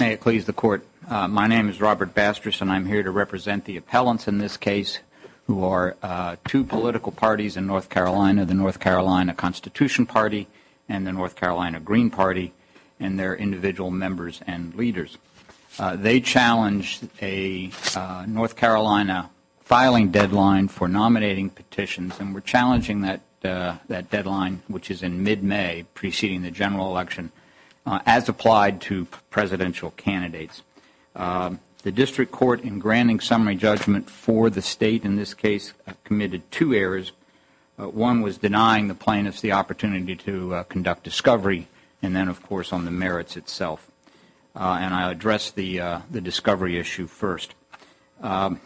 May it please the Court, my name is Robert Bastris and I am here to represent the appellants in this case who are two political parties in North Carolina, the North Carolina Constitution Party and the North Carolina Green Party and their individual members and leaders. They challenged a North Carolina filing deadline for nominating petitions and we are challenging that deadline which is in mid-May preceding the general election as applied to presidential candidates. The district court in granting summary judgment for the state in this case committed two errors. One was denying the plaintiffs the opportunity to conduct discovery and then of course on the merits itself and I address the discovery issue first and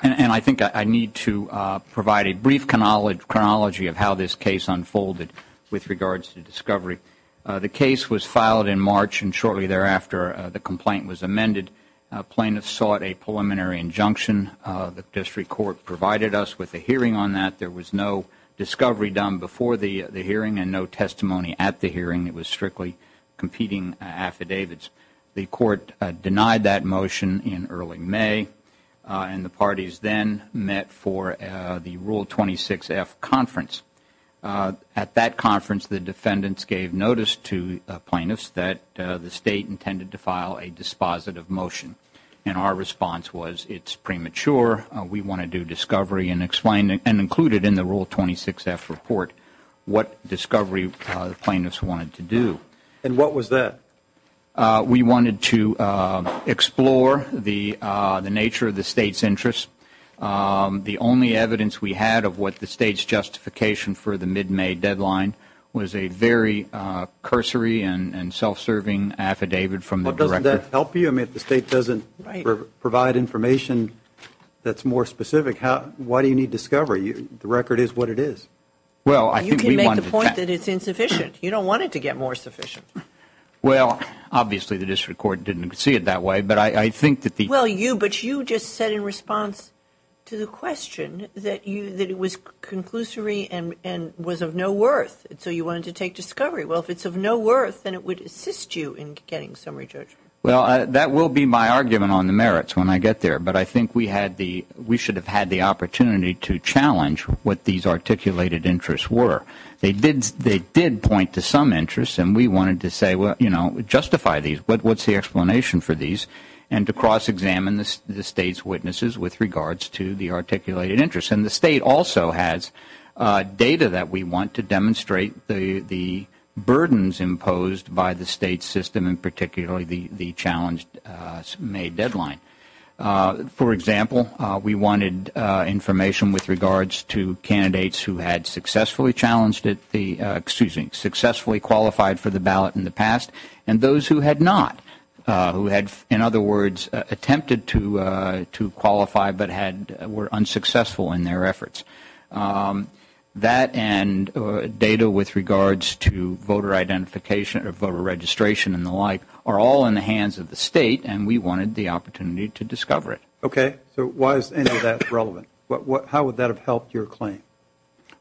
I think I need to provide a brief chronology of how this case unfolded with regards to discovery. The case was filed in March and shortly thereafter the complaint was amended. Plaintiffs sought a preliminary injunction. The district court provided us with a hearing on that. There was no discovery done before the hearing and no testimony at the hearing. It was strictly competing affidavits. The court denied that motion in early May and the parties then met for the Rule 26-F conference. At that conference the defendants gave notice to plaintiffs that the state intended to file a dispositive motion and our response was it's premature. We want to do discovery and included in the Rule 26-F report what discovery the plaintiffs wanted to do. And what was that? We wanted to explore the nature of the state's interest. The only evidence we had of what the state's justification for the mid-May deadline was a very cursory and self-serving affidavit from the director. But doesn't that help you? I mean if the state doesn't provide information that's more specific, why do you need discovery? The record is what it is. Well I think we wanted that. You can make the point that it's insufficient. You don't want it to get more sufficient. Well obviously the district court didn't see it that way but I think that the Well you, but you just said in response to the question that it was conclusory and was of no worth. So you wanted to take discovery. Well if it's of no worth then it would assist you in getting summary judgment. Well that will be my argument on the merits when I get there. But I think we had the, we should have had the opportunity to challenge what these articulated interests were. They did point to some interests and we wanted to say, you know, justify these. What's the explanation for these? And to cross-examine the state's witnesses with regards to the articulated interests. And the state also has data that we want to demonstrate the burdens imposed by the state's system and particularly the challenged May deadline. For example, we wanted information with regards to candidates who had successfully challenged at the, excuse me, successfully qualified for the ballot in the past and those who had not. Who had, in other words, attempted to qualify but had, were unsuccessful in their efforts. That and data with regards to voter identification or voter registration and the like are all in the hands of the state and we wanted the opportunity to discover it. Okay. So why is any of that relevant? How would that have helped your claim?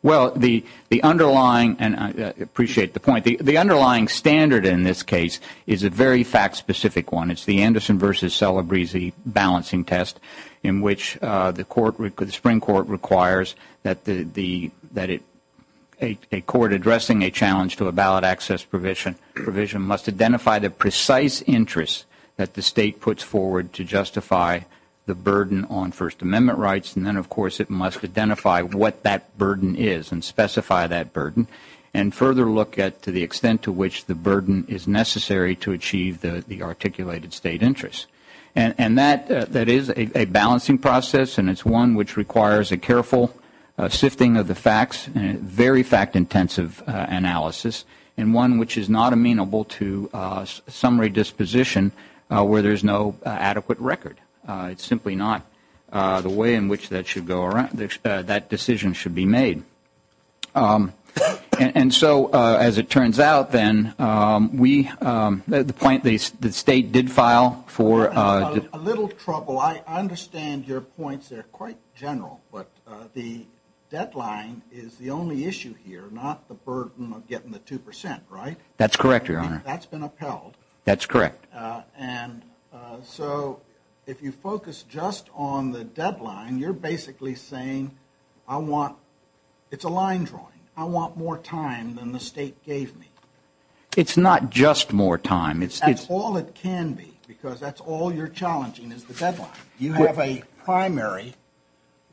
Well the underlying, and I appreciate the point, the underlying standard in this case is a very fact-specific one. It's the Anderson versus Celebrezee balancing test in which the court, the Supreme Court requires that the, that a court addressing a challenge to a ballot access provision must identify the precise interests that the state puts forward to justify the burden on First Amendment rights. And then of course it must identify what that burden is and specify that burden and further look at to the extent to which the burden is necessary to achieve the articulated state interests. And that, that is a balancing process and it's one which requires a careful sifting of the facts and a very fact-intensive analysis and one which is not amenable to summary disposition where there's no adequate record. It's simply not the way in which that should go around, that decision should be made. And so as it turns out then, we, the point the state did file for A little trouble, I understand your points, they're quite general, but the deadline is the only issue here, not the burden of getting the 2%, right? That's correct, Your Honor. That's been upheld. That's correct. And so if you focus just on the deadline, you're basically saying, I want, it's a line drawing, I want more time than the state gave me. It's not just more time, it's That's all it can be, because that's all you're challenging is the deadline. You have a primary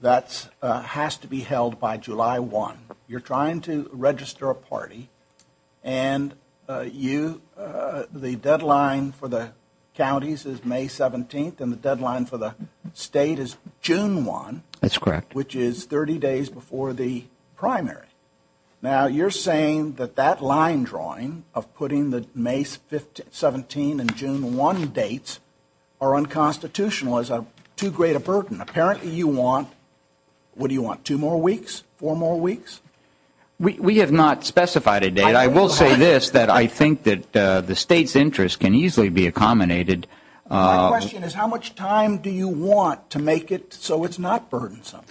that has to be held by July 1. You're trying to register a party and you, the deadline for the counties is May 17th and the deadline for the state is June 1. That's correct. Which is 30 days before the primary. Now you're saying that that line drawing of putting the May 17 and June 1 dates are unconstitutional, is too great a burden. Apparently you want, what do you want, two more weeks, four more weeks? We have not specified a date. I will say this, that I think that the state's interest can easily be accommodated My question is, how much time do you want to make it so it's not burdensome?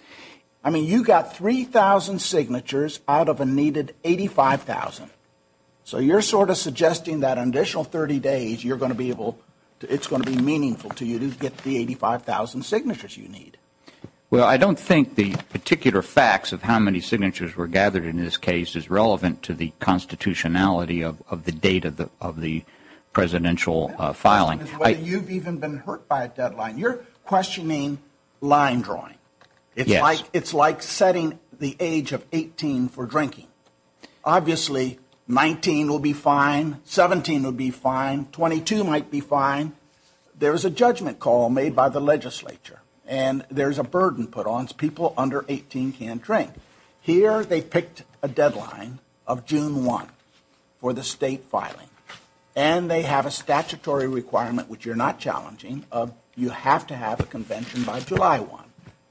I mean, you got 3,000 signatures out of a needed 85,000. So you're sort of suggesting that an additional 30 days, you're going to be able, it's going to be meaningful to you to get the 85,000 signatures you need. Well, I don't think the particular facts of how many signatures were gathered in this case is relevant to the constitutionality of the date of the presidential filing. My question is whether you've even been hurt by a deadline. You're questioning line drawing. It's like setting the age of 18 for drinking. Obviously, 19 will be fine, 17 will be fine, 22 might be fine. There's a judgment call made by the legislature. And there's a burden put on people under 18 can't drink. Here they picked a deadline of June 1 for the state filing. And they have a statutory requirement, which you're not challenging, you have to have a convention by July 1.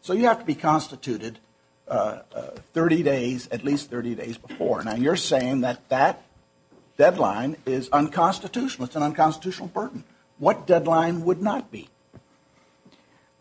So you have to be constituted 30 days, at least 30 days before. Now, you're saying that that deadline is unconstitutional. It's an unconstitutional burden. What deadline would not be?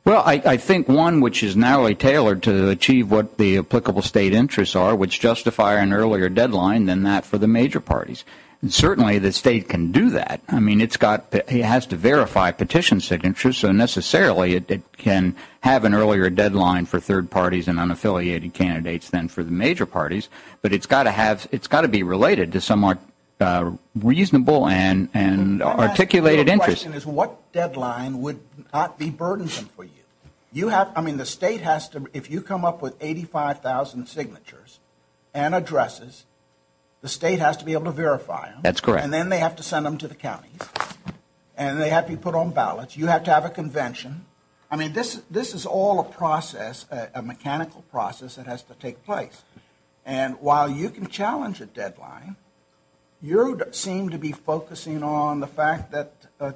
Well, I think one which is narrowly tailored to achieve what the applicable state interests are, which justify an earlier deadline than that for the major parties. And certainly the state can do that. I mean, it has to verify petition signatures, so necessarily it can have an earlier deadline for third parties and unaffiliated candidates than for the major parties. But it's got to be related to somewhat reasonable and articulated interests. My question is what deadline would not be burdensome for you? I mean, the state has to, if you come up with 85,000 signatures and addresses, the state has to be able to verify them. That's correct. And then they have to send them to the counties. And they have to be put on ballots. You have to have a convention. I mean, this is all a process, a mechanical process that has to take place. And while you can challenge a deadline, you seem to be focusing on the fact that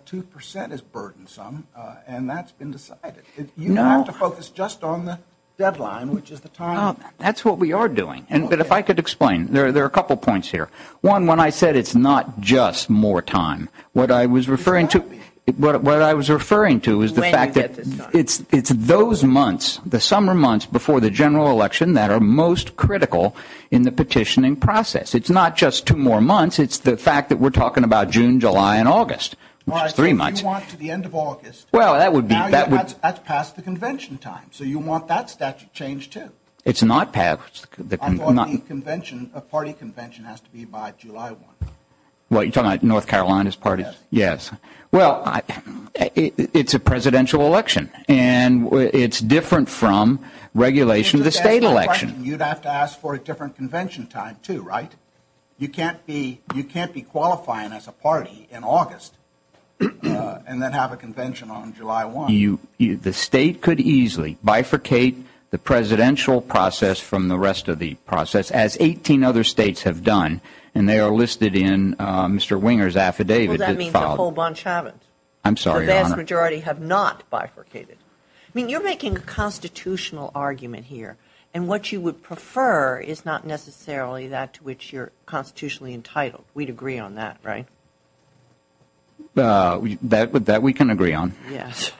2 percent is burdensome, and that's been decided. You have to focus just on the deadline, which is the time. That's what we are doing. But if I could explain. There are a couple points here. One, when I said it's not just more time, what I was referring to is the fact that it's those months, the summer months before the general election, that are most critical in the petitioning process. It's not just two more months. It's the fact that we're talking about June, July, and August, which is three months. So you want to the end of August. Well, that would be. That's past the convention time. So you want that statute changed too. It's not past. I thought the convention, a party convention has to be by July 1. What, you're talking about North Carolina's party? Yes. Yes. Well, it's a presidential election, and it's different from regulation of the state election. You'd have to ask for a different convention time too, right? You can't be qualifying as a party in August, and then have a convention on July 1. The state could easily bifurcate the presidential process from the rest of the process, as 18 other states have done, and they are listed in Mr. Winger's affidavit. Well, that means a whole bunch haven't. I'm sorry, Your Honor. The vast majority have not bifurcated. I mean, you're making a constitutional argument here, and what you would prefer is not necessarily that to which you're constitutionally entitled. We'd agree on that, right? That we can agree on. Yes.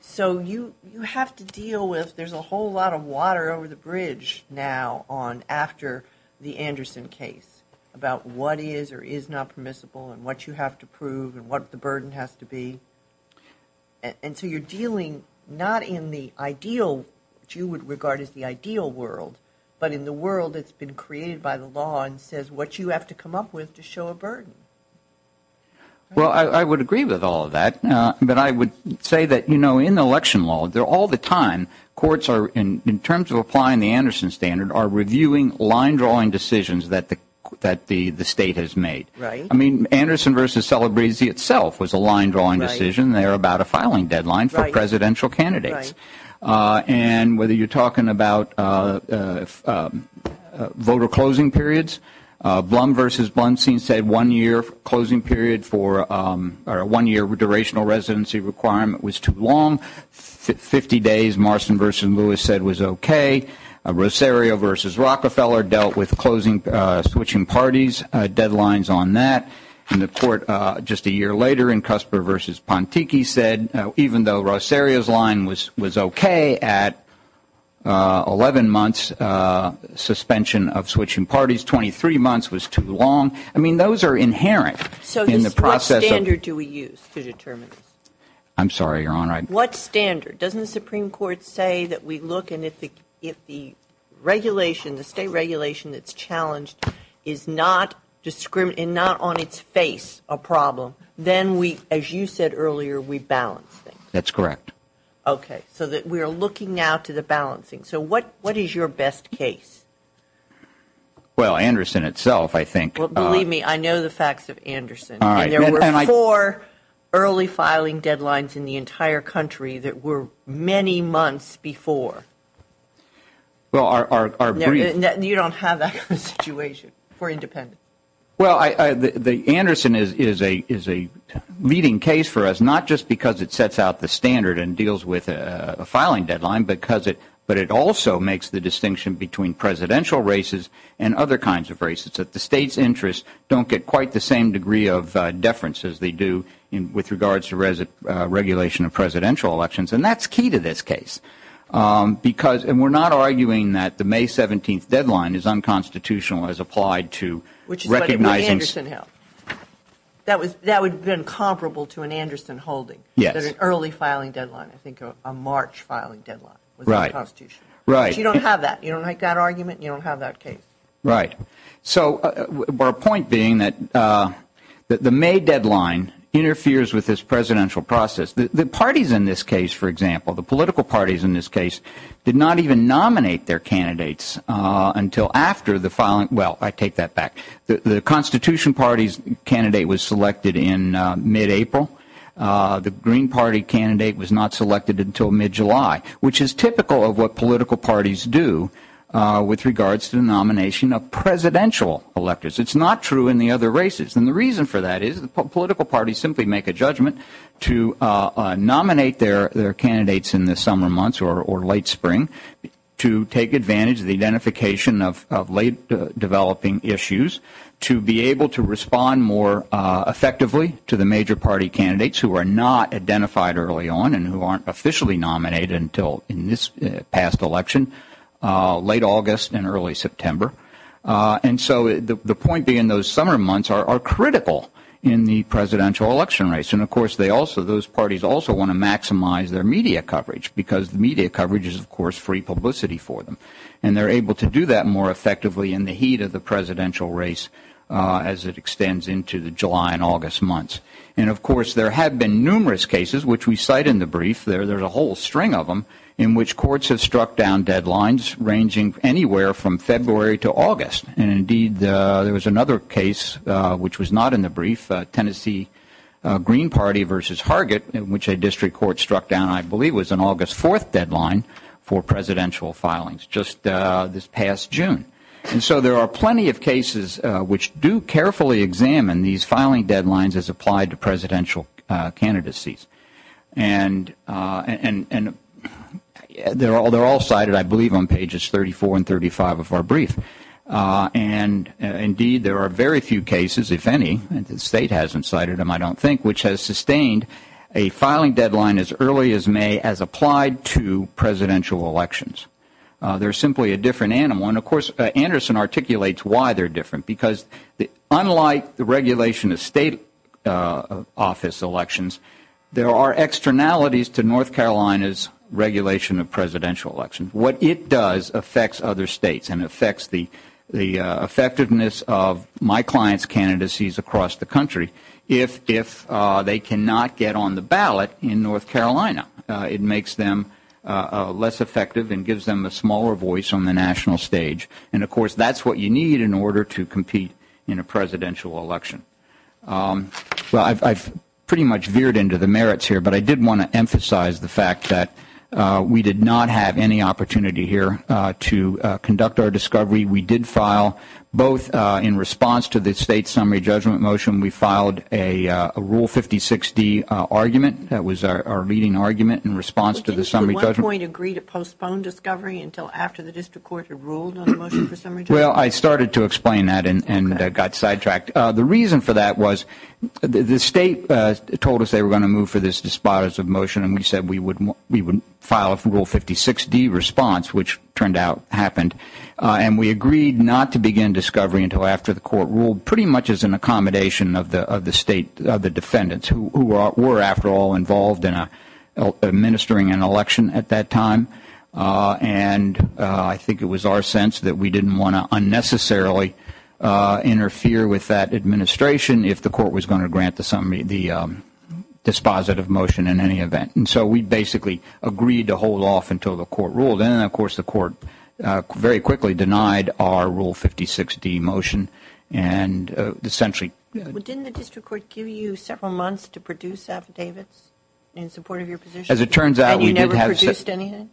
So you have to deal with, there's a whole lot of water over the bridge now on after the Anderson case about what is or is not permissible, and what you have to prove, and what the burden has to be. And so you're dealing not in the ideal, which you would regard as the ideal world, but in the world that's been created by the law and says what you have to come up with to show a burden. Well, I would agree with all of that, but I would say that, you know, in election law, all the time, courts are, in terms of applying the Anderson standard, are reviewing line-drawing decisions that the state has made. Right. I mean, Anderson v. Celebresi itself was a line-drawing decision. Right. They're about a filing deadline for presidential candidates. Right. And whether you're talking about voter closing periods, Blum v. Blunstein said one-year closing period for a one-year durational residency requirement was too long. 50 days, Marston v. Lewis said was okay. Rosario v. Rockefeller dealt with switching parties, deadlines on that. And the court, just a year later, in Cusper v. Pontiki said, even though Rosario's line was okay at 11 months suspension of switching parties, 23 months was too long. I mean, those are inherent in the process of So what standard do we use to determine this? I'm sorry, Your Honor. What standard? Doesn't the Supreme Court say that we look and if the regulation, the state regulation that's challenged is not on its face a problem, then we, as you said earlier, we balance things. That's correct. Okay. So that we are looking now to the balancing. So what is your best case? Well, Anderson itself, I think Believe me, I know the facts of Anderson. And there were four early filing deadlines in the entire country that were many months before. Well, our brief You don't have that kind of situation for independents. Well, Anderson is a leading case for us, not just because it sets out the standard and deals with a filing deadline, but it also makes the distinction between presidential races and other kinds of races. That the state's interests don't get quite the same degree of deference as they do with regards to regulation of presidential elections. And that's key to this case. Because, and we're not arguing that the May 17th deadline is unconstitutional as applied to Which is what Anderson held. That would have been comparable to an Anderson holding. Yes. That an early filing deadline, I think a March filing deadline Right. was unconstitutional. Right. But you don't have that. You don't make that argument. You don't have that case. Right. So, our point being that the May deadline interferes with this presidential process. The parties in this case, for example, the political parties in this case did not even nominate their candidates until after the filing Well, I take that back. The Constitution Party's candidate was selected in mid-April. The Green Party candidate was not selected until mid-July. Which is typical of what political parties do with regards to the nomination of presidential electors. It's not true in the other races. And the reason for that is political parties simply make a judgment to nominate their candidates in the summer months or late spring to take advantage of the identification of late developing issues to be able to respond more effectively to the major party candidates who are not identified early on and who aren't officially nominated until in this past election late August and early September. And so the point being those summer months are critical in the presidential election race. And of course, those parties also want to maximize their media coverage because media coverage is, of course, free publicity for them. And they're able to do that more effectively in the heat of the presidential race as it extends into the July and August months. And of course, there have been numerous cases which we cite in the brief there. There's a whole string of them in which courts have struck down deadlines ranging anywhere from February to August. And indeed, there was another case which was not in the brief Tennessee Green Party versus Hargett in which a district court struck down I believe was an August 4th deadline for presidential filings just this past June. And so there are plenty of cases which do carefully examine these filing deadlines as applied to presidential candidacies. And they're all cited I believe on pages 34 and 35 of our brief. And indeed, there are very few cases, if any, the state hasn't cited them I don't think, which has sustained a filing deadline as early as May as applied to presidential elections. They're simply a different animal. And of course, Anderson articulates why they're different because unlike the regulation of state office elections, there are externalities to North Carolina's regulation of presidential elections. What it does affects other states and affects the effectiveness of my client's candidacies across the country if they cannot get on the ballot in North Carolina. It makes them less effective and gives them a smaller voice on the national stage. And of course, that's what you need in order to compete in a presidential election. I've pretty much veered into the merits here, but I did want to emphasize the fact that we did not have any opportunity here to conduct our discovery. We did file both in response to the state summary judgment motion, we filed a Rule 56-D argument. That was our leading argument in response to the summary judgment. Did you at one point agree to postpone discovery until after the district court had ruled on the motion for summary judgment? Well, I started to explain that and got sidetracked. The reason for that was the state told us they were going to move for this dispositive motion, and we said we would file a Rule 56-D response, which turned out happened. And we agreed not to begin discovery until after the court ruled, pretty much as an accommodation of the state, of the defendants, who were, after all, involved in administering an election at that time. And I think it was our sense that we didn't want to unnecessarily interfere with that administration if the court was going to grant the dispositive motion in any event. And so we basically agreed to hold off until the court ruled. And then, of course, the court very quickly denied our Rule 56-D motion. Didn't the district court give you several months to produce affidavits in support of your position? And you never produced anything?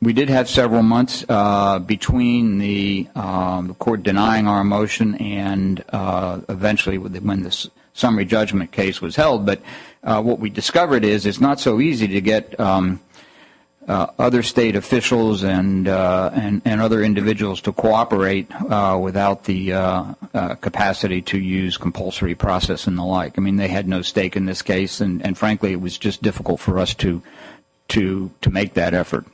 We did have several months between the court denying our motion and eventually when the summary judgment case was held. But what we discovered is it's not so easy to get other state officials and other individuals to cooperate without the capacity to use compulsory process and the like. I mean, they had no stake in this case, and frankly, it was just difficult for us to make that effort,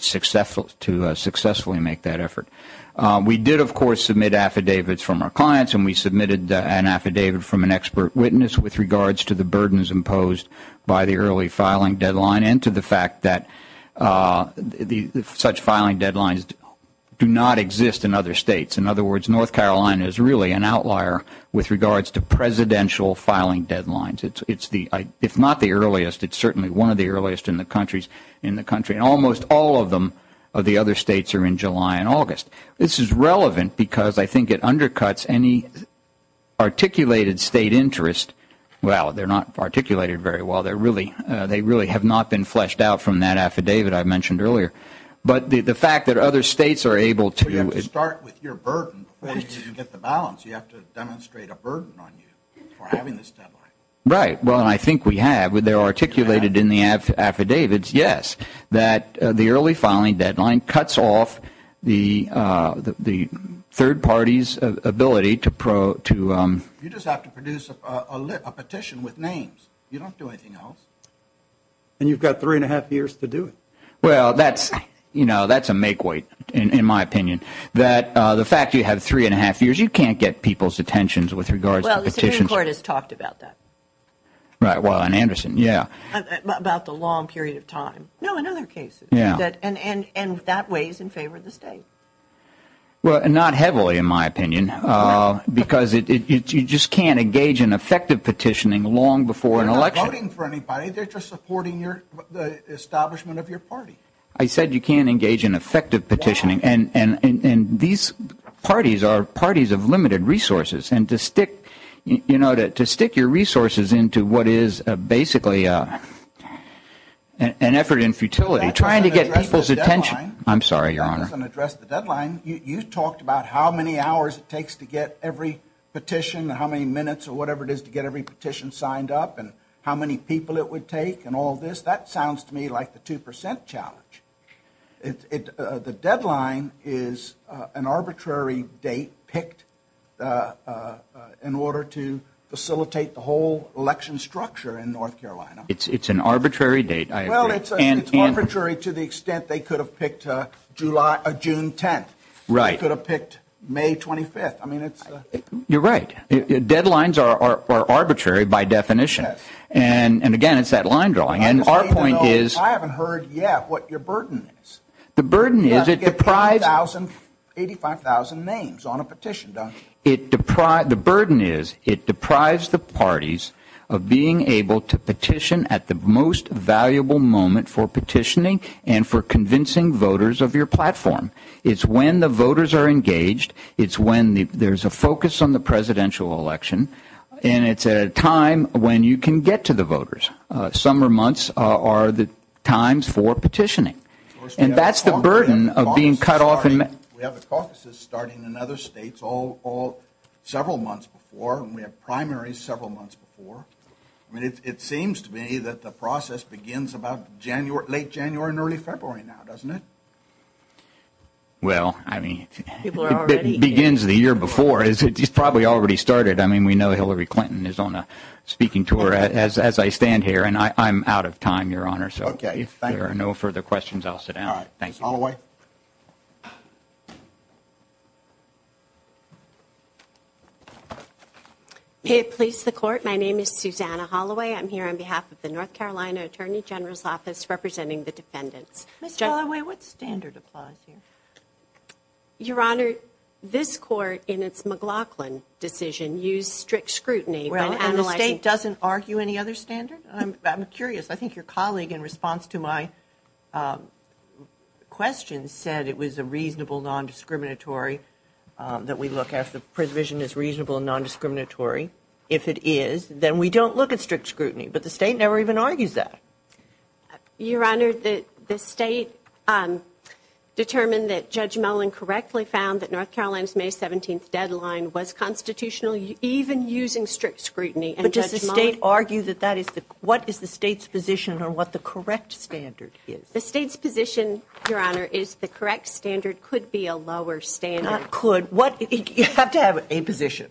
to successfully make that effort. We did, of course, submit affidavits from our clients, and we submitted an affidavit from an expert witness with regards to the burdens imposed by the early filing deadline and to the fact that such filing deadlines do not exist in other states. In other words, North Carolina is really an outlier with regards to presidential filing deadlines. If not the earliest, it's certainly one of the earliest in the country. Almost all of them of the other states are in July and August. This is relevant because I think it undercuts any articulated state interest. Well, they're not articulated very well. They really have not been fleshed out from that affidavit I mentioned earlier. But the fact that other states are able to... You have to start with your burden. You have to demonstrate a burden on you for having this deadline. Right. Well, I think we have. They're articulated in the affidavits, yes, that the early filing deadline cuts off the third party's ability to You just have to produce a petition with names. You don't do anything else. And you've got three and a half years to do it. Well, that's a make-weight, in my opinion. The fact you have three and a half years, you can't get people's attention with regards Well, the Supreme Court has talked about that. Right, well, on Anderson, yeah. About the long period of time. No, in other cases. And that weighs in favor of the state. Well, not heavily, in my opinion, because you just can't engage in effective petitioning long before an election. They're not voting for anybody. They're just supporting the establishment of your party. I said you can't engage in effective petitioning, and these parties are parties of You know, to stick your resources into what is basically an effort in futility, trying to get people's attention That doesn't address the deadline. I'm sorry, Your Honor. You talked about how many hours it takes to get every petition, how many minutes, or whatever it is to get every petition signed up, and how many people it would take, and all this. That sounds to me like the 2% challenge. The deadline is an arbitrary date picked in order to facilitate the whole election structure in North Carolina. It's an arbitrary date, I agree. It's arbitrary to the extent they could have picked June 10th. They could have picked May 25th. You're right. Deadlines are arbitrary by definition. And again, it's that line drawing. I haven't heard yet what your burden is. 85,000 names on a petition. The burden is, it deprives the parties of being able to petition at the most valuable moment for petitioning and for convincing voters of your platform. It's when the voters are engaged, it's when there's a focus on the presidential election, and it's a time when you can get to the voters. Summer months are the times for petitioning. And that's the burden of being cut off We have the caucuses starting in other states all several months before, and we have primaries several months before. It seems to me that the process begins about late January and early February now, doesn't it? Well, I mean it begins the year before. It's probably already started. We know Hillary Clinton is on a speaking tour as I stand here, and I'm out of time, Your Honor. If there are no further questions, I'll sit down. All right. Thanks. Holloway? May it please the Court, my name is Susanna Holloway. I'm here on behalf of the North Carolina Attorney General's Office representing the defendants. Ms. Holloway, what standard applies here? Your Honor, this Court, in its McLaughlin decision, used strict scrutiny Well, and the state doesn't argue any other standard? I'm curious. I think your colleague, in response to my question, said it was a reasonable, nondiscriminatory that we look at if the provision is reasonable and nondiscriminatory. If it is, then we don't look at strict scrutiny. But the state never even argues that. Your Honor, the state determined that Judge Mullen correctly found that North Carolina's May 17th deadline was constitutional, even using strict scrutiny. But does the state argue that that is the, what is the state's position on what the correct standard is? The state's position, Your Honor, is the correct standard could be a lower standard. Not could, what, you have to have a position.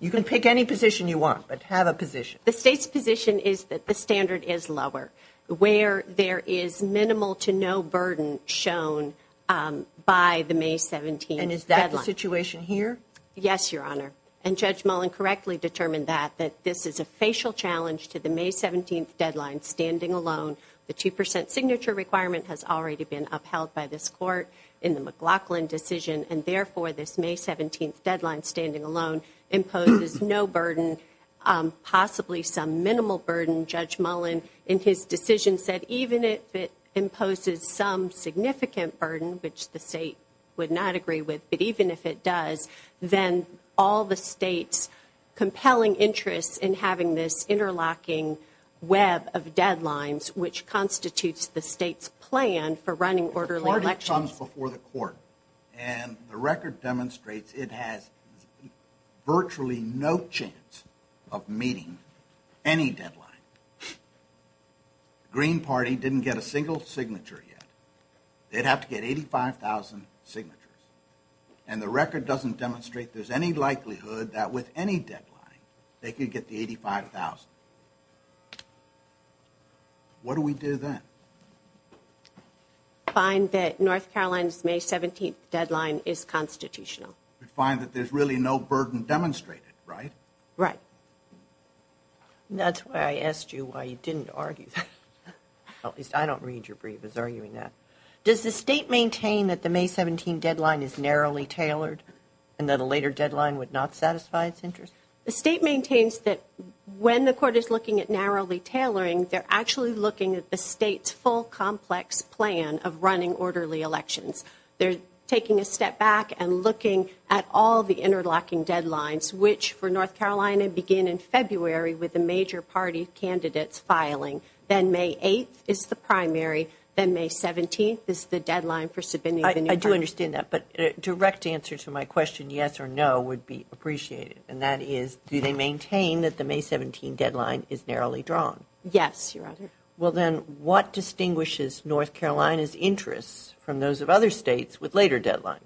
You can pick any position you want, but have a position. The state's position is that the standard is lower, where there is minimal to no burden shown by the May 17th deadline. And is that the situation here? Yes, Your Honor. And Judge Mullen correctly determined that that this is a facial challenge to the May 17th deadline, standing alone. The 2% signature requirement has already been upheld by this court in the McLaughlin decision. And therefore, this May 17th deadline standing alone imposes no burden, possibly some minimal burden. Judge Mullen in his decision said, even if it imposes some significant burden, which the state would not agree with, but even if it does, then all the state's compelling interest in having this interlocking web of deadlines, which constitutes the state's plan for running orderly elections. The court comes before the court, and the record demonstrates it has virtually no chance of meeting any deadline. The Green Party didn't get a single signature yet. They'd have to get 85,000 signatures. And the record doesn't demonstrate there's any likelihood that with any deadline, they could get the 85,000. What do we do then? Find that North Carolina's May 17th deadline is constitutional. We find that there's really no burden demonstrated, right? Right. That's why I asked you why you didn't argue that. At least I don't read your brief as arguing that. Does the state maintain that the May 17th deadline is narrowly tailored, and that a later deadline would not satisfy its interest? The state maintains that when the court is looking at narrowly tailoring, they're actually looking at the state's full complex plan of running orderly elections. They're taking a step back and looking at all the interlocking deadlines, which for North Carolina begin in February with the major party candidates filing. Then May 8th is the primary. Then May 17th is the deadline for submitting the new party. I do understand that, but a direct answer to my question, yes or no, would be appreciated, and that is, do they maintain that the May 17th deadline is narrowly drawn? Yes, Your Honor. Well then, what distinguishes North Carolina's interests from those of other states with later deadlines?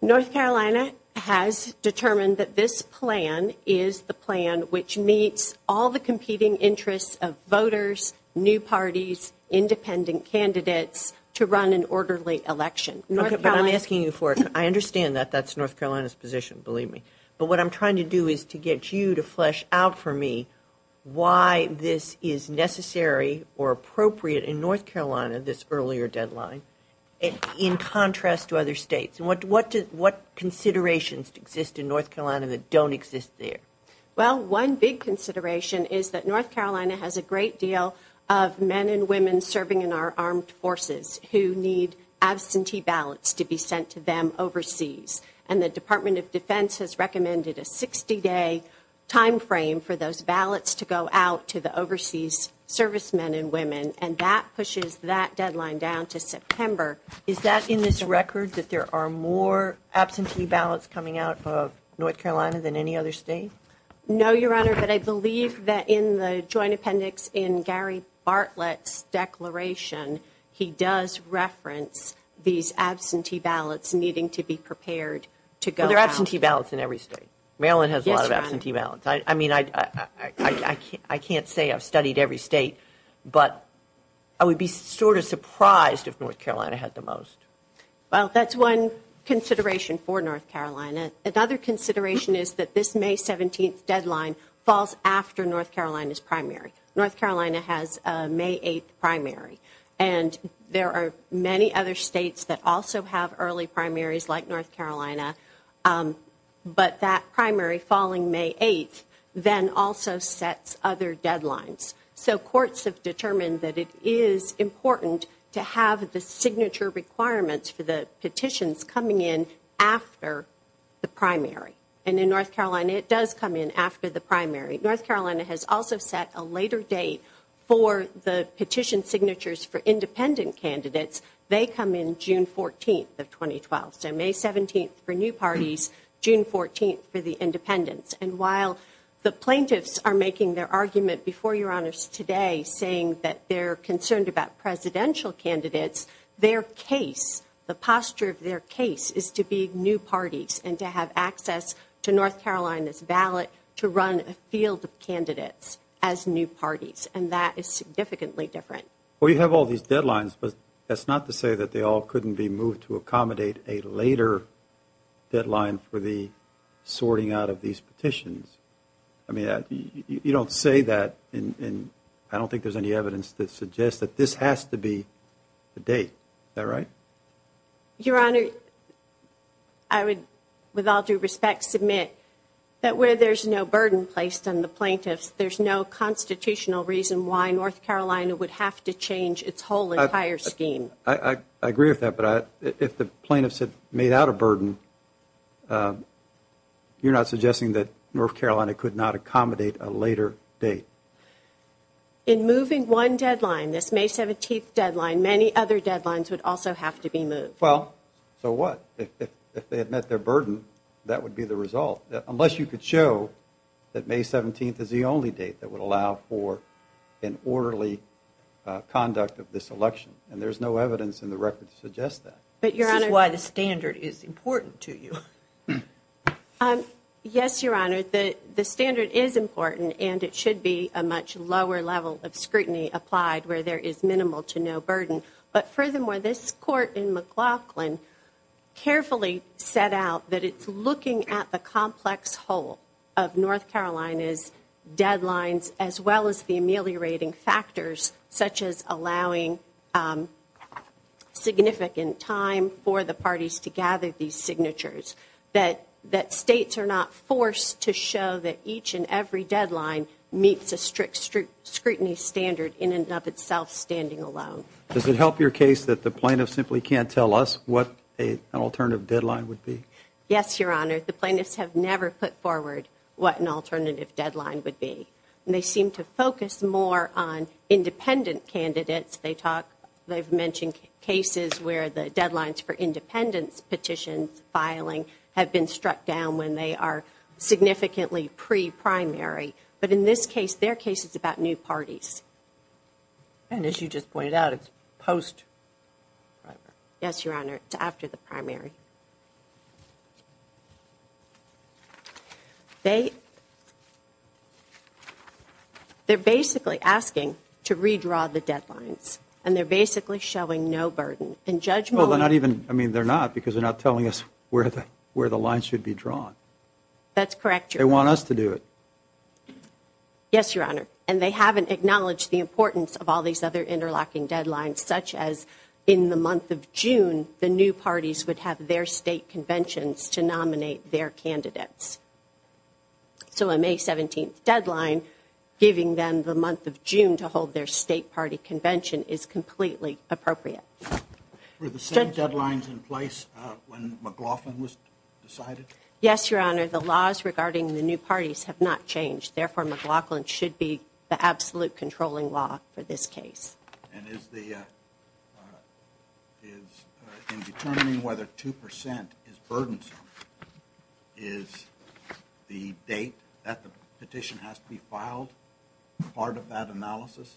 North Carolina has determined that this plan is the plan which meets all the competing interests of voters, new parties, independent candidates, to run an orderly election. Okay, but I'm asking you for it. I understand that that's North Carolina's position, believe me. But what I'm trying to do is to get you to flesh out for me why this is necessary or appropriate in North Carolina, this earlier deadline, in contrast to other states. What considerations exist in North Carolina that don't exist there? Well, one big consideration is that North Carolina has a great deal of men and women serving in our armed forces who need absentee ballots to be sent to them overseas, and the Department of Defense has recommended a 60-day time frame for those ballots to go out to the overseas servicemen and women, and that pushes that deadline down to September. Is that in this record that there are more absentee ballots coming out of North Carolina than any other state? No, Your Honor, but I believe that in the Joint Appendix, in Gary Bartlett's declaration, he does reference these absentee ballots needing to be prepared to go out. There are absentee ballots in every state. Maryland has a lot of absentee ballots. I mean, I can't say I've studied every state, but I would be sort of surprised if North Carolina had the most. Well, that's one consideration for North Carolina. Another consideration is that this May 17th deadline falls after North Carolina's primary. North Carolina has a May 8th primary, and there are many other states that also have early primaries like North Carolina, but that primary falling May 8th then also sets other deadlines. So courts have determined that it is important to have the signature requirements for the petitions coming in after the primary, and in North Carolina has also set a later date for the petition signatures for independent candidates. They come in June 14th of 2012. So May 17th for new parties, June 14th for the independents. And while the plaintiffs are making their argument before Your Honors today saying that they're concerned about presidential candidates, their case, the posture of their case, is to be new parties and to have access to North Carolina in the field of candidates as new parties, and that is significantly different. Well you have all these deadlines, but that's not to say that they all couldn't be moved to accommodate a later deadline for the sorting out of these petitions. I mean you don't say that and I don't think there's any evidence that suggests that this has to be the date. Is that right? Your Honor, I would, with all due respect, submit that where there's no burden placed on the plaintiffs, there's no constitutional reason why North Carolina would have to change its whole entire scheme. I agree with that, but if the plaintiffs had made out a burden, you're not suggesting that North Carolina could not accommodate a later date? In moving one deadline, this May 17th deadline, many other deadlines would also have to be moved. Well, so what? If they had met their burden, that would be the result. Unless you could show that May 17th is the only date that would allow for an orderly conduct of this election. And there's no evidence in the record to suggest that. This is why the standard is important to you. Yes, Your Honor, the standard is important and it should be a much lower level of scrutiny applied where there is minimal to no burden. But furthermore, this Court in McLaughlin carefully set out that it's looking at the complex whole of North Carolina's deadlines as well as the ameliorating factors such as allowing significant time for the parties to gather these signatures. That states are not forced to show that each and every deadline meets a strict scrutiny standard in and of itself, standing alone. Does it help your case that the plaintiff simply can't tell us what an alternative deadline would be? Yes, Your Honor. The plaintiffs have never put forward what an alternative deadline would be. They seem to focus more on independent candidates. They talk they've mentioned cases where the deadlines for independence petitions filing have been struck down when they are significantly pre-primary. But in this case, their case is about new parties. And as you just pointed out, it's post-primary. Yes, Your Honor. It's after the primary. They they're basically asking to redraw the deadlines. And they're basically showing no burden. And Judge Mullen I mean, they're not because they're not telling us where the lines should be drawn. That's correct, Your Honor. They want us to do it. Yes, Your Honor. And they haven't acknowledged the importance of all these other interlocking deadlines, such as in the month of June, the new parties would have their state conventions to nominate their candidates. So a May 17 deadline, giving them the month of June to hold their state party convention is completely appropriate. Were the same deadlines in place when McLaughlin was decided? Yes, Your Honor. The laws regarding the new parties have not changed. Therefore, McLaughlin should be the absolute controlling law for this case. And is the in determining whether 2% is burdensome is the date that the petition has to be filed part of that analysis?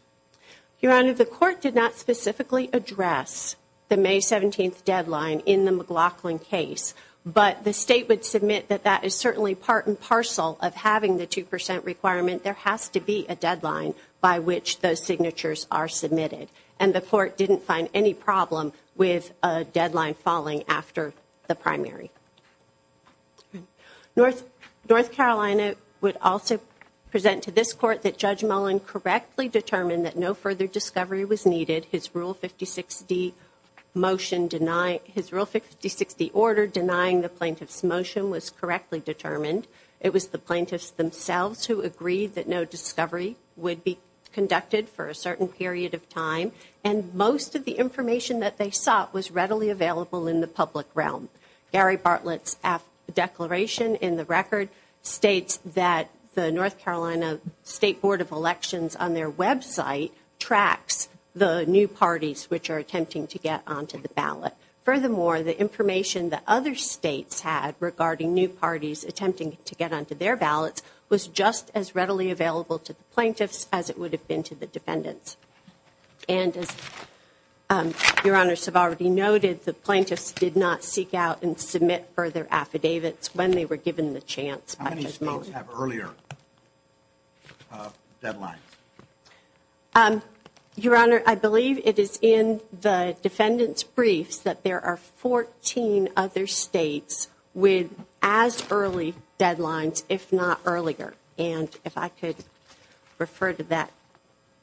Your Honor, the court did not specifically address the May 17 deadline in the McLaughlin case. But the state would submit that that is certainly part and parcel of But there has to be a deadline by which those signatures are submitted. And the court didn't find any problem with a deadline falling after the primary. North Carolina would also present to this court that Judge Mullen correctly determined that no further discovery was needed. His Rule 56D order denying the plaintiff's motion was that no discovery would be conducted for a certain period of time and most of the information that they sought was readily available in the public realm. Gary Bartlett's declaration in the record states that the North Carolina State Board of Elections on their website tracks the new parties which are attempting to get onto the ballot. Furthermore, the information that other states had regarding new parties attempting to get onto their ballots was not readily available to the plaintiffs as it would have been to the defendants. And as Your Honor's have already noted the plaintiffs did not seek out and submit further affidavits when they were given the chance. How many states have earlier deadlines? Your Honor, I believe it is in the defendant's briefs that there are 14 other states with as early deadlines if not earlier. And if I could refer to that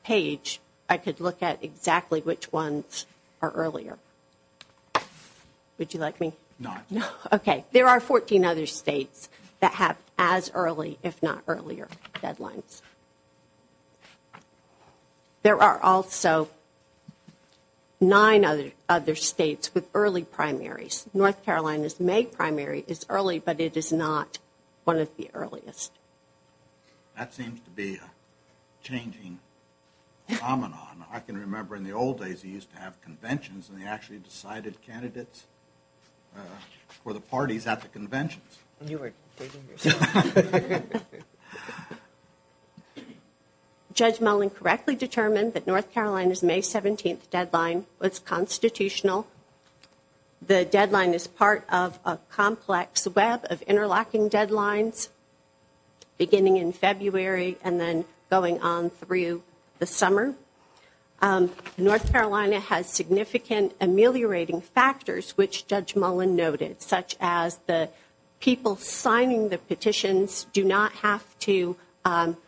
page, I could look at exactly which ones are earlier. Would you like me? No. There are 14 other states that have as early if not earlier deadlines. There are also nine other states with early primaries. North Carolina is one of the earliest states with as early but it is not one of the earliest. That seems to be a changing phenomenon. I can remember in the old days they used to have conventions and they actually decided candidates for the parties at the conventions. You were digging yourself. Judge Mullen correctly determined that North Carolina's May 17th deadline was constitutional. The deadline is part of a complex web of interlocking deadlines beginning in February and then going on through the summer. North Carolina has significant ameliorating factors which Judge Mullen noted such as the people signing the petitions do not have to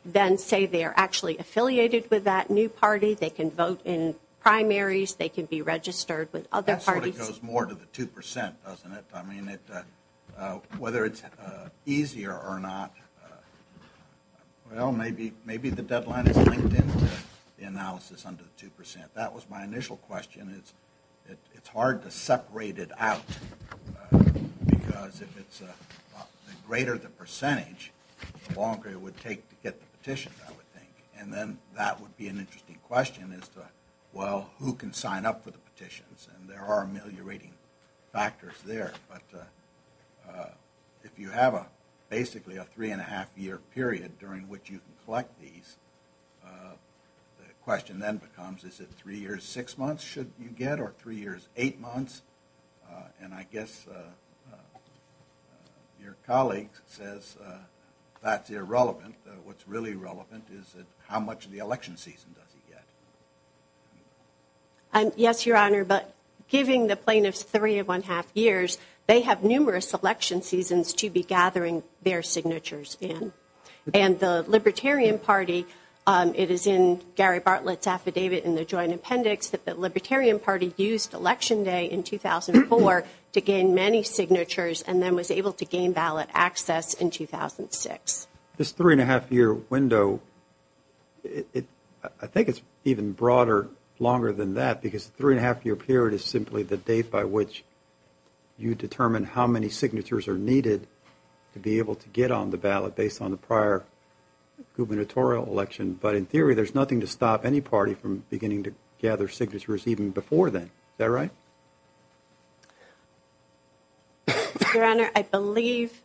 then say they are actually affiliated with that new party. They can vote in primaries they can be registered with other parties. That sort of goes more to the 2% doesn't it? Whether it is easier or not well maybe the deadline is linked to the analysis under the 2%. That was my initial question. It is hard to separate it out because the greater the percentage the longer it would take to get the petition I would think. And then that would be an interesting question as to well who can sign up for the petitions and there are ameliorating factors there but if you have basically a 3.5 year period during which you collect these the question then becomes is it 3 years 6 months should you get or 3 years 8 months and I guess your colleague says that is irrelevant what is really relevant is how much of the election season does he get? Yes your honor but giving the plaintiffs 3.5 years they have numerous election seasons to be gathering their signatures in. And the Libertarian Party it is in Gary Bartlett's affidavit in the joint appendix that the Libertarian Party used election day in 2004 to gain many signatures and then was able to gain ballot access in 2006 this 3.5 year window I think it is even broader longer than that because 3.5 year period is simply the date by which you determine how many signatures are needed to be able to get on the ballot based on the prior gubernatorial election but in theory there is nothing to stop any party from beginning to gather signatures even before then is that right? your honor I believe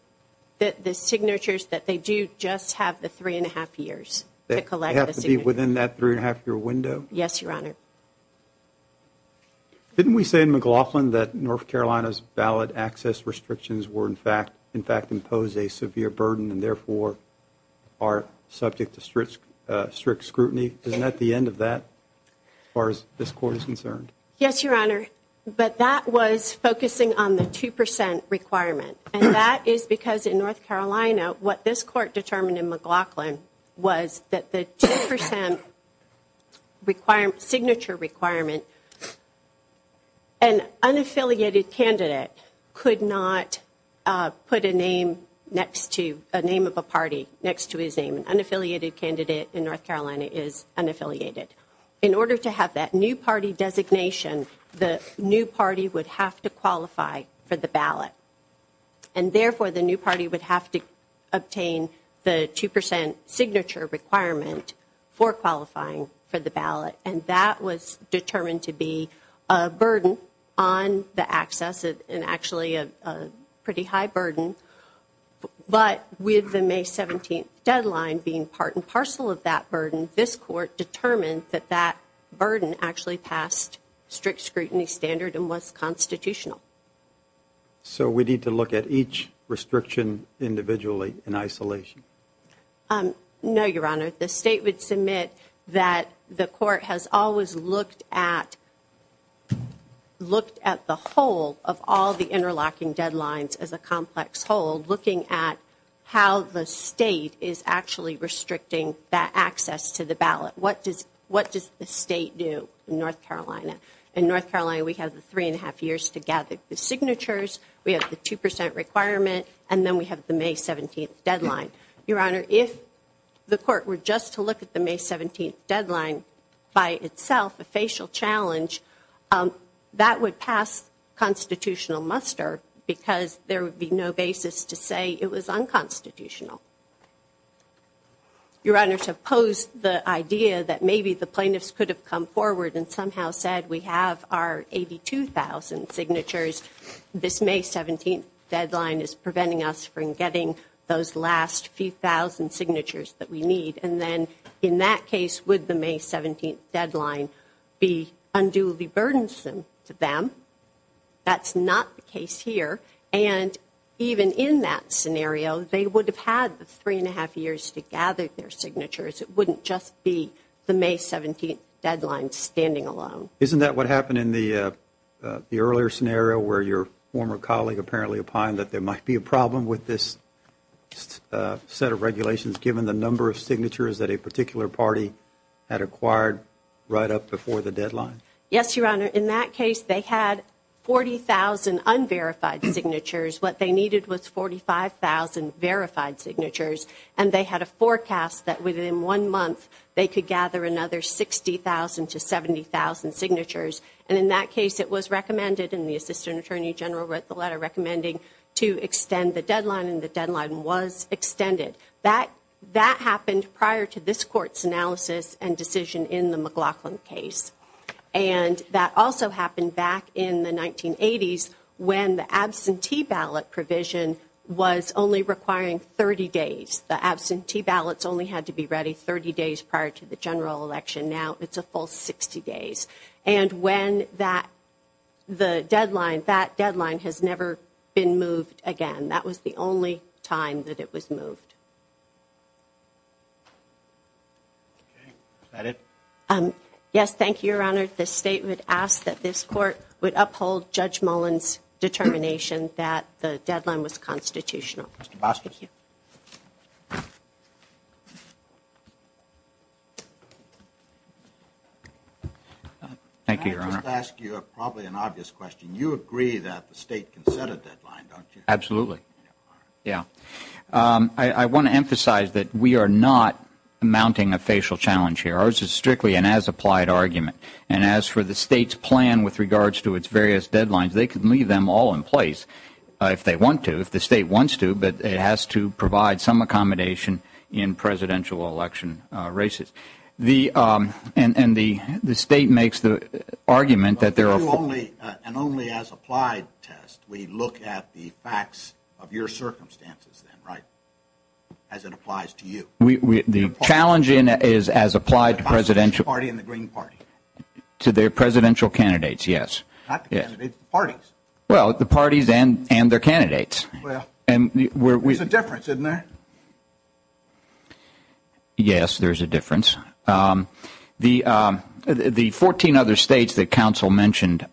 that the signatures that they do just have the 3.5 years they have to be within that 3.5 year window yes your honor didn't we say in McLaughlin that North Carolina's ballot access restrictions were in fact in fact impose a severe burden and therefore are subject to strict scrutiny isn't that the end of that? as far as this court is concerned yes your honor but that was focusing on the 2% requirement and that is because in North Carolina what this court determined in McLaughlin was that the 2% signature requirement an unaffiliated candidate could not put a name next to a name of a party next to his name an unaffiliated candidate in North Carolina is unaffiliated in order to have that new party designation the new party would have to qualify for the ballot and therefore the new party would have to obtain the 2% signature requirement for qualifying for the ballot and that was determined to be a burden on the access and actually a pretty high burden but with the May 17 deadline being part and parcel of that burden this court determined that that burden actually passed strict scrutiny standard and was constitutional so we need to look at each restriction individually in isolation no your honor the state would submit that the court has always looked at looked at the whole of all the interlocking deadlines as a complex whole looking at how the state is actually restricting that access to the ballot what does the state do in North Carolina in North Carolina we have the 3.5 years to gather the signatures we have the 2% requirement and then we have the May 17th deadline your honor if the court were just to look at the May 17th deadline by itself a facial challenge that would pass constitutional muster because there would be no basis to say it was unconstitutional your honor to oppose the idea that maybe the plaintiffs could have come forward and somehow said we have our 82,000 signatures this May 17th deadline is preventing us from getting those last few thousand signatures that we need and then in that case would the May 17th deadline be unduly burdensome to them that's not the case here and even in that scenario they would have had the 3.5 years to gather their signatures it wouldn't just be the May 17th deadline standing alone isn't that what happened in the earlier scenario where your former colleague apparently opined that there might be a problem with this set of regulations given the number of signatures that a particular party had acquired right up before the deadline yes your honor in that case they had 40,000 unverified signatures what they needed was 45,000 verified signatures and they had a forecast that within one month they could gather another 60,000 to 70,000 signatures and in that case it was recommended and the assistant attorney general wrote the letter recommending to extend the deadline and the deadline was extended that happened prior to this court's analysis and decision in the McLaughlin case and that also happened back in the 1980s when the absentee ballot provision was only requiring 30 days the absentee ballots only had to be ready 30 days prior to the general election now it's a full 60 days and when that the deadline that deadline has never been moved again that was the only time that it was moved yes thank you your honor the state would ask that this court would uphold judge Mullen's determination that the deadline was constitutional thank you your honor you agree that the state can set a deadline don't you absolutely yeah I want to emphasize that we are not mounting a facial challenge here ours is strictly an as applied argument and as for the state's plan with regards to its various deadlines they can leave them all in place if they want to if the state wants to but it has to provide some accommodation in presidential election races and the state makes the argument that there are and only as applied we look at the facts of your circumstances then right as it applies to you the challenge is as applied to presidential to their presidential candidates yes well the parties and their candidates there's a difference isn't there yes there's a difference the 14 other states that counsel mentioned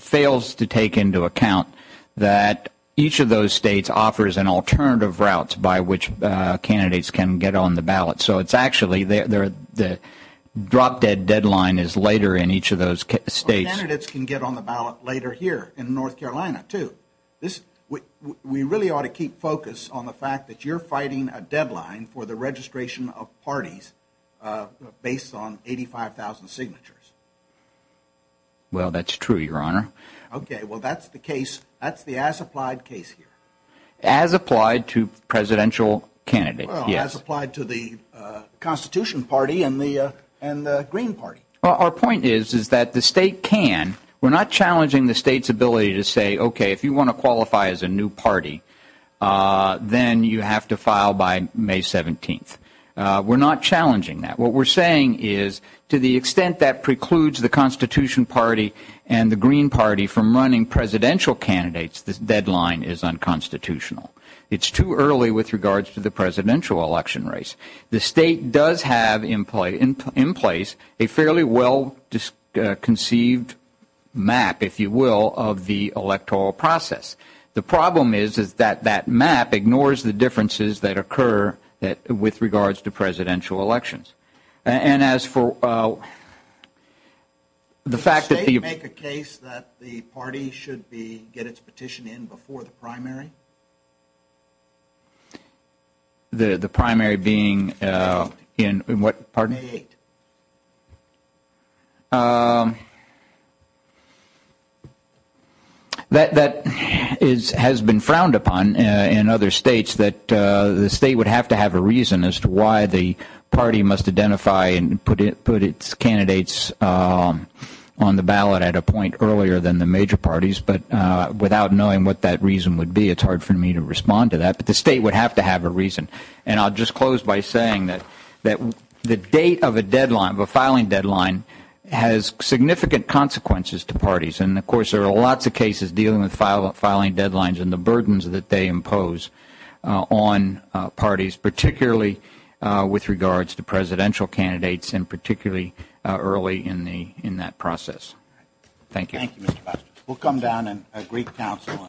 fails to take into account that each of those states offers an alternative route by which candidates can get on the ballot so it's actually the drop dead deadline is later in each of those states so candidates can get on the ballot later here in North Carolina too we really ought to keep focus on the fact that you're fighting a deadline for the registration of parties based on 85,000 signatures well that's true your honor ok well that's the case that's the as applied case as applied to presidential candidates as applied to the constitution party and the green party well our point is that the state can we're not challenging the states ability to say ok if you want to qualify as a new party then you have to file by May 17th we're not challenging that what we're saying is to the extent that precludes the constitution party and the green party from running presidential candidates this deadline is unconstitutional it's too early with regards to the presidential election race the state does have in place a fairly well conceived map if you will of the electoral process the problem is that that map ignores the differences that occur with regards to presidential elections and as for the fact that the did you make a case that the party should be get it's petition in before the primary the primary being in what pardon um that that has been frowned upon in other states that the state would have to have a reason as to why the party must identify and put it's candidates on the ballot at a point earlier than the major parties but without knowing what that reason would be it's hard for me to respond to that but the state would have to have a reason and I'll just close by saying that the date of a filing deadline has significant consequences to parties and of course there are lots of cases dealing with filing deadlines and the burdens that they impose on parties particularly with regards to presidential candidates and particularly early in that process Thank you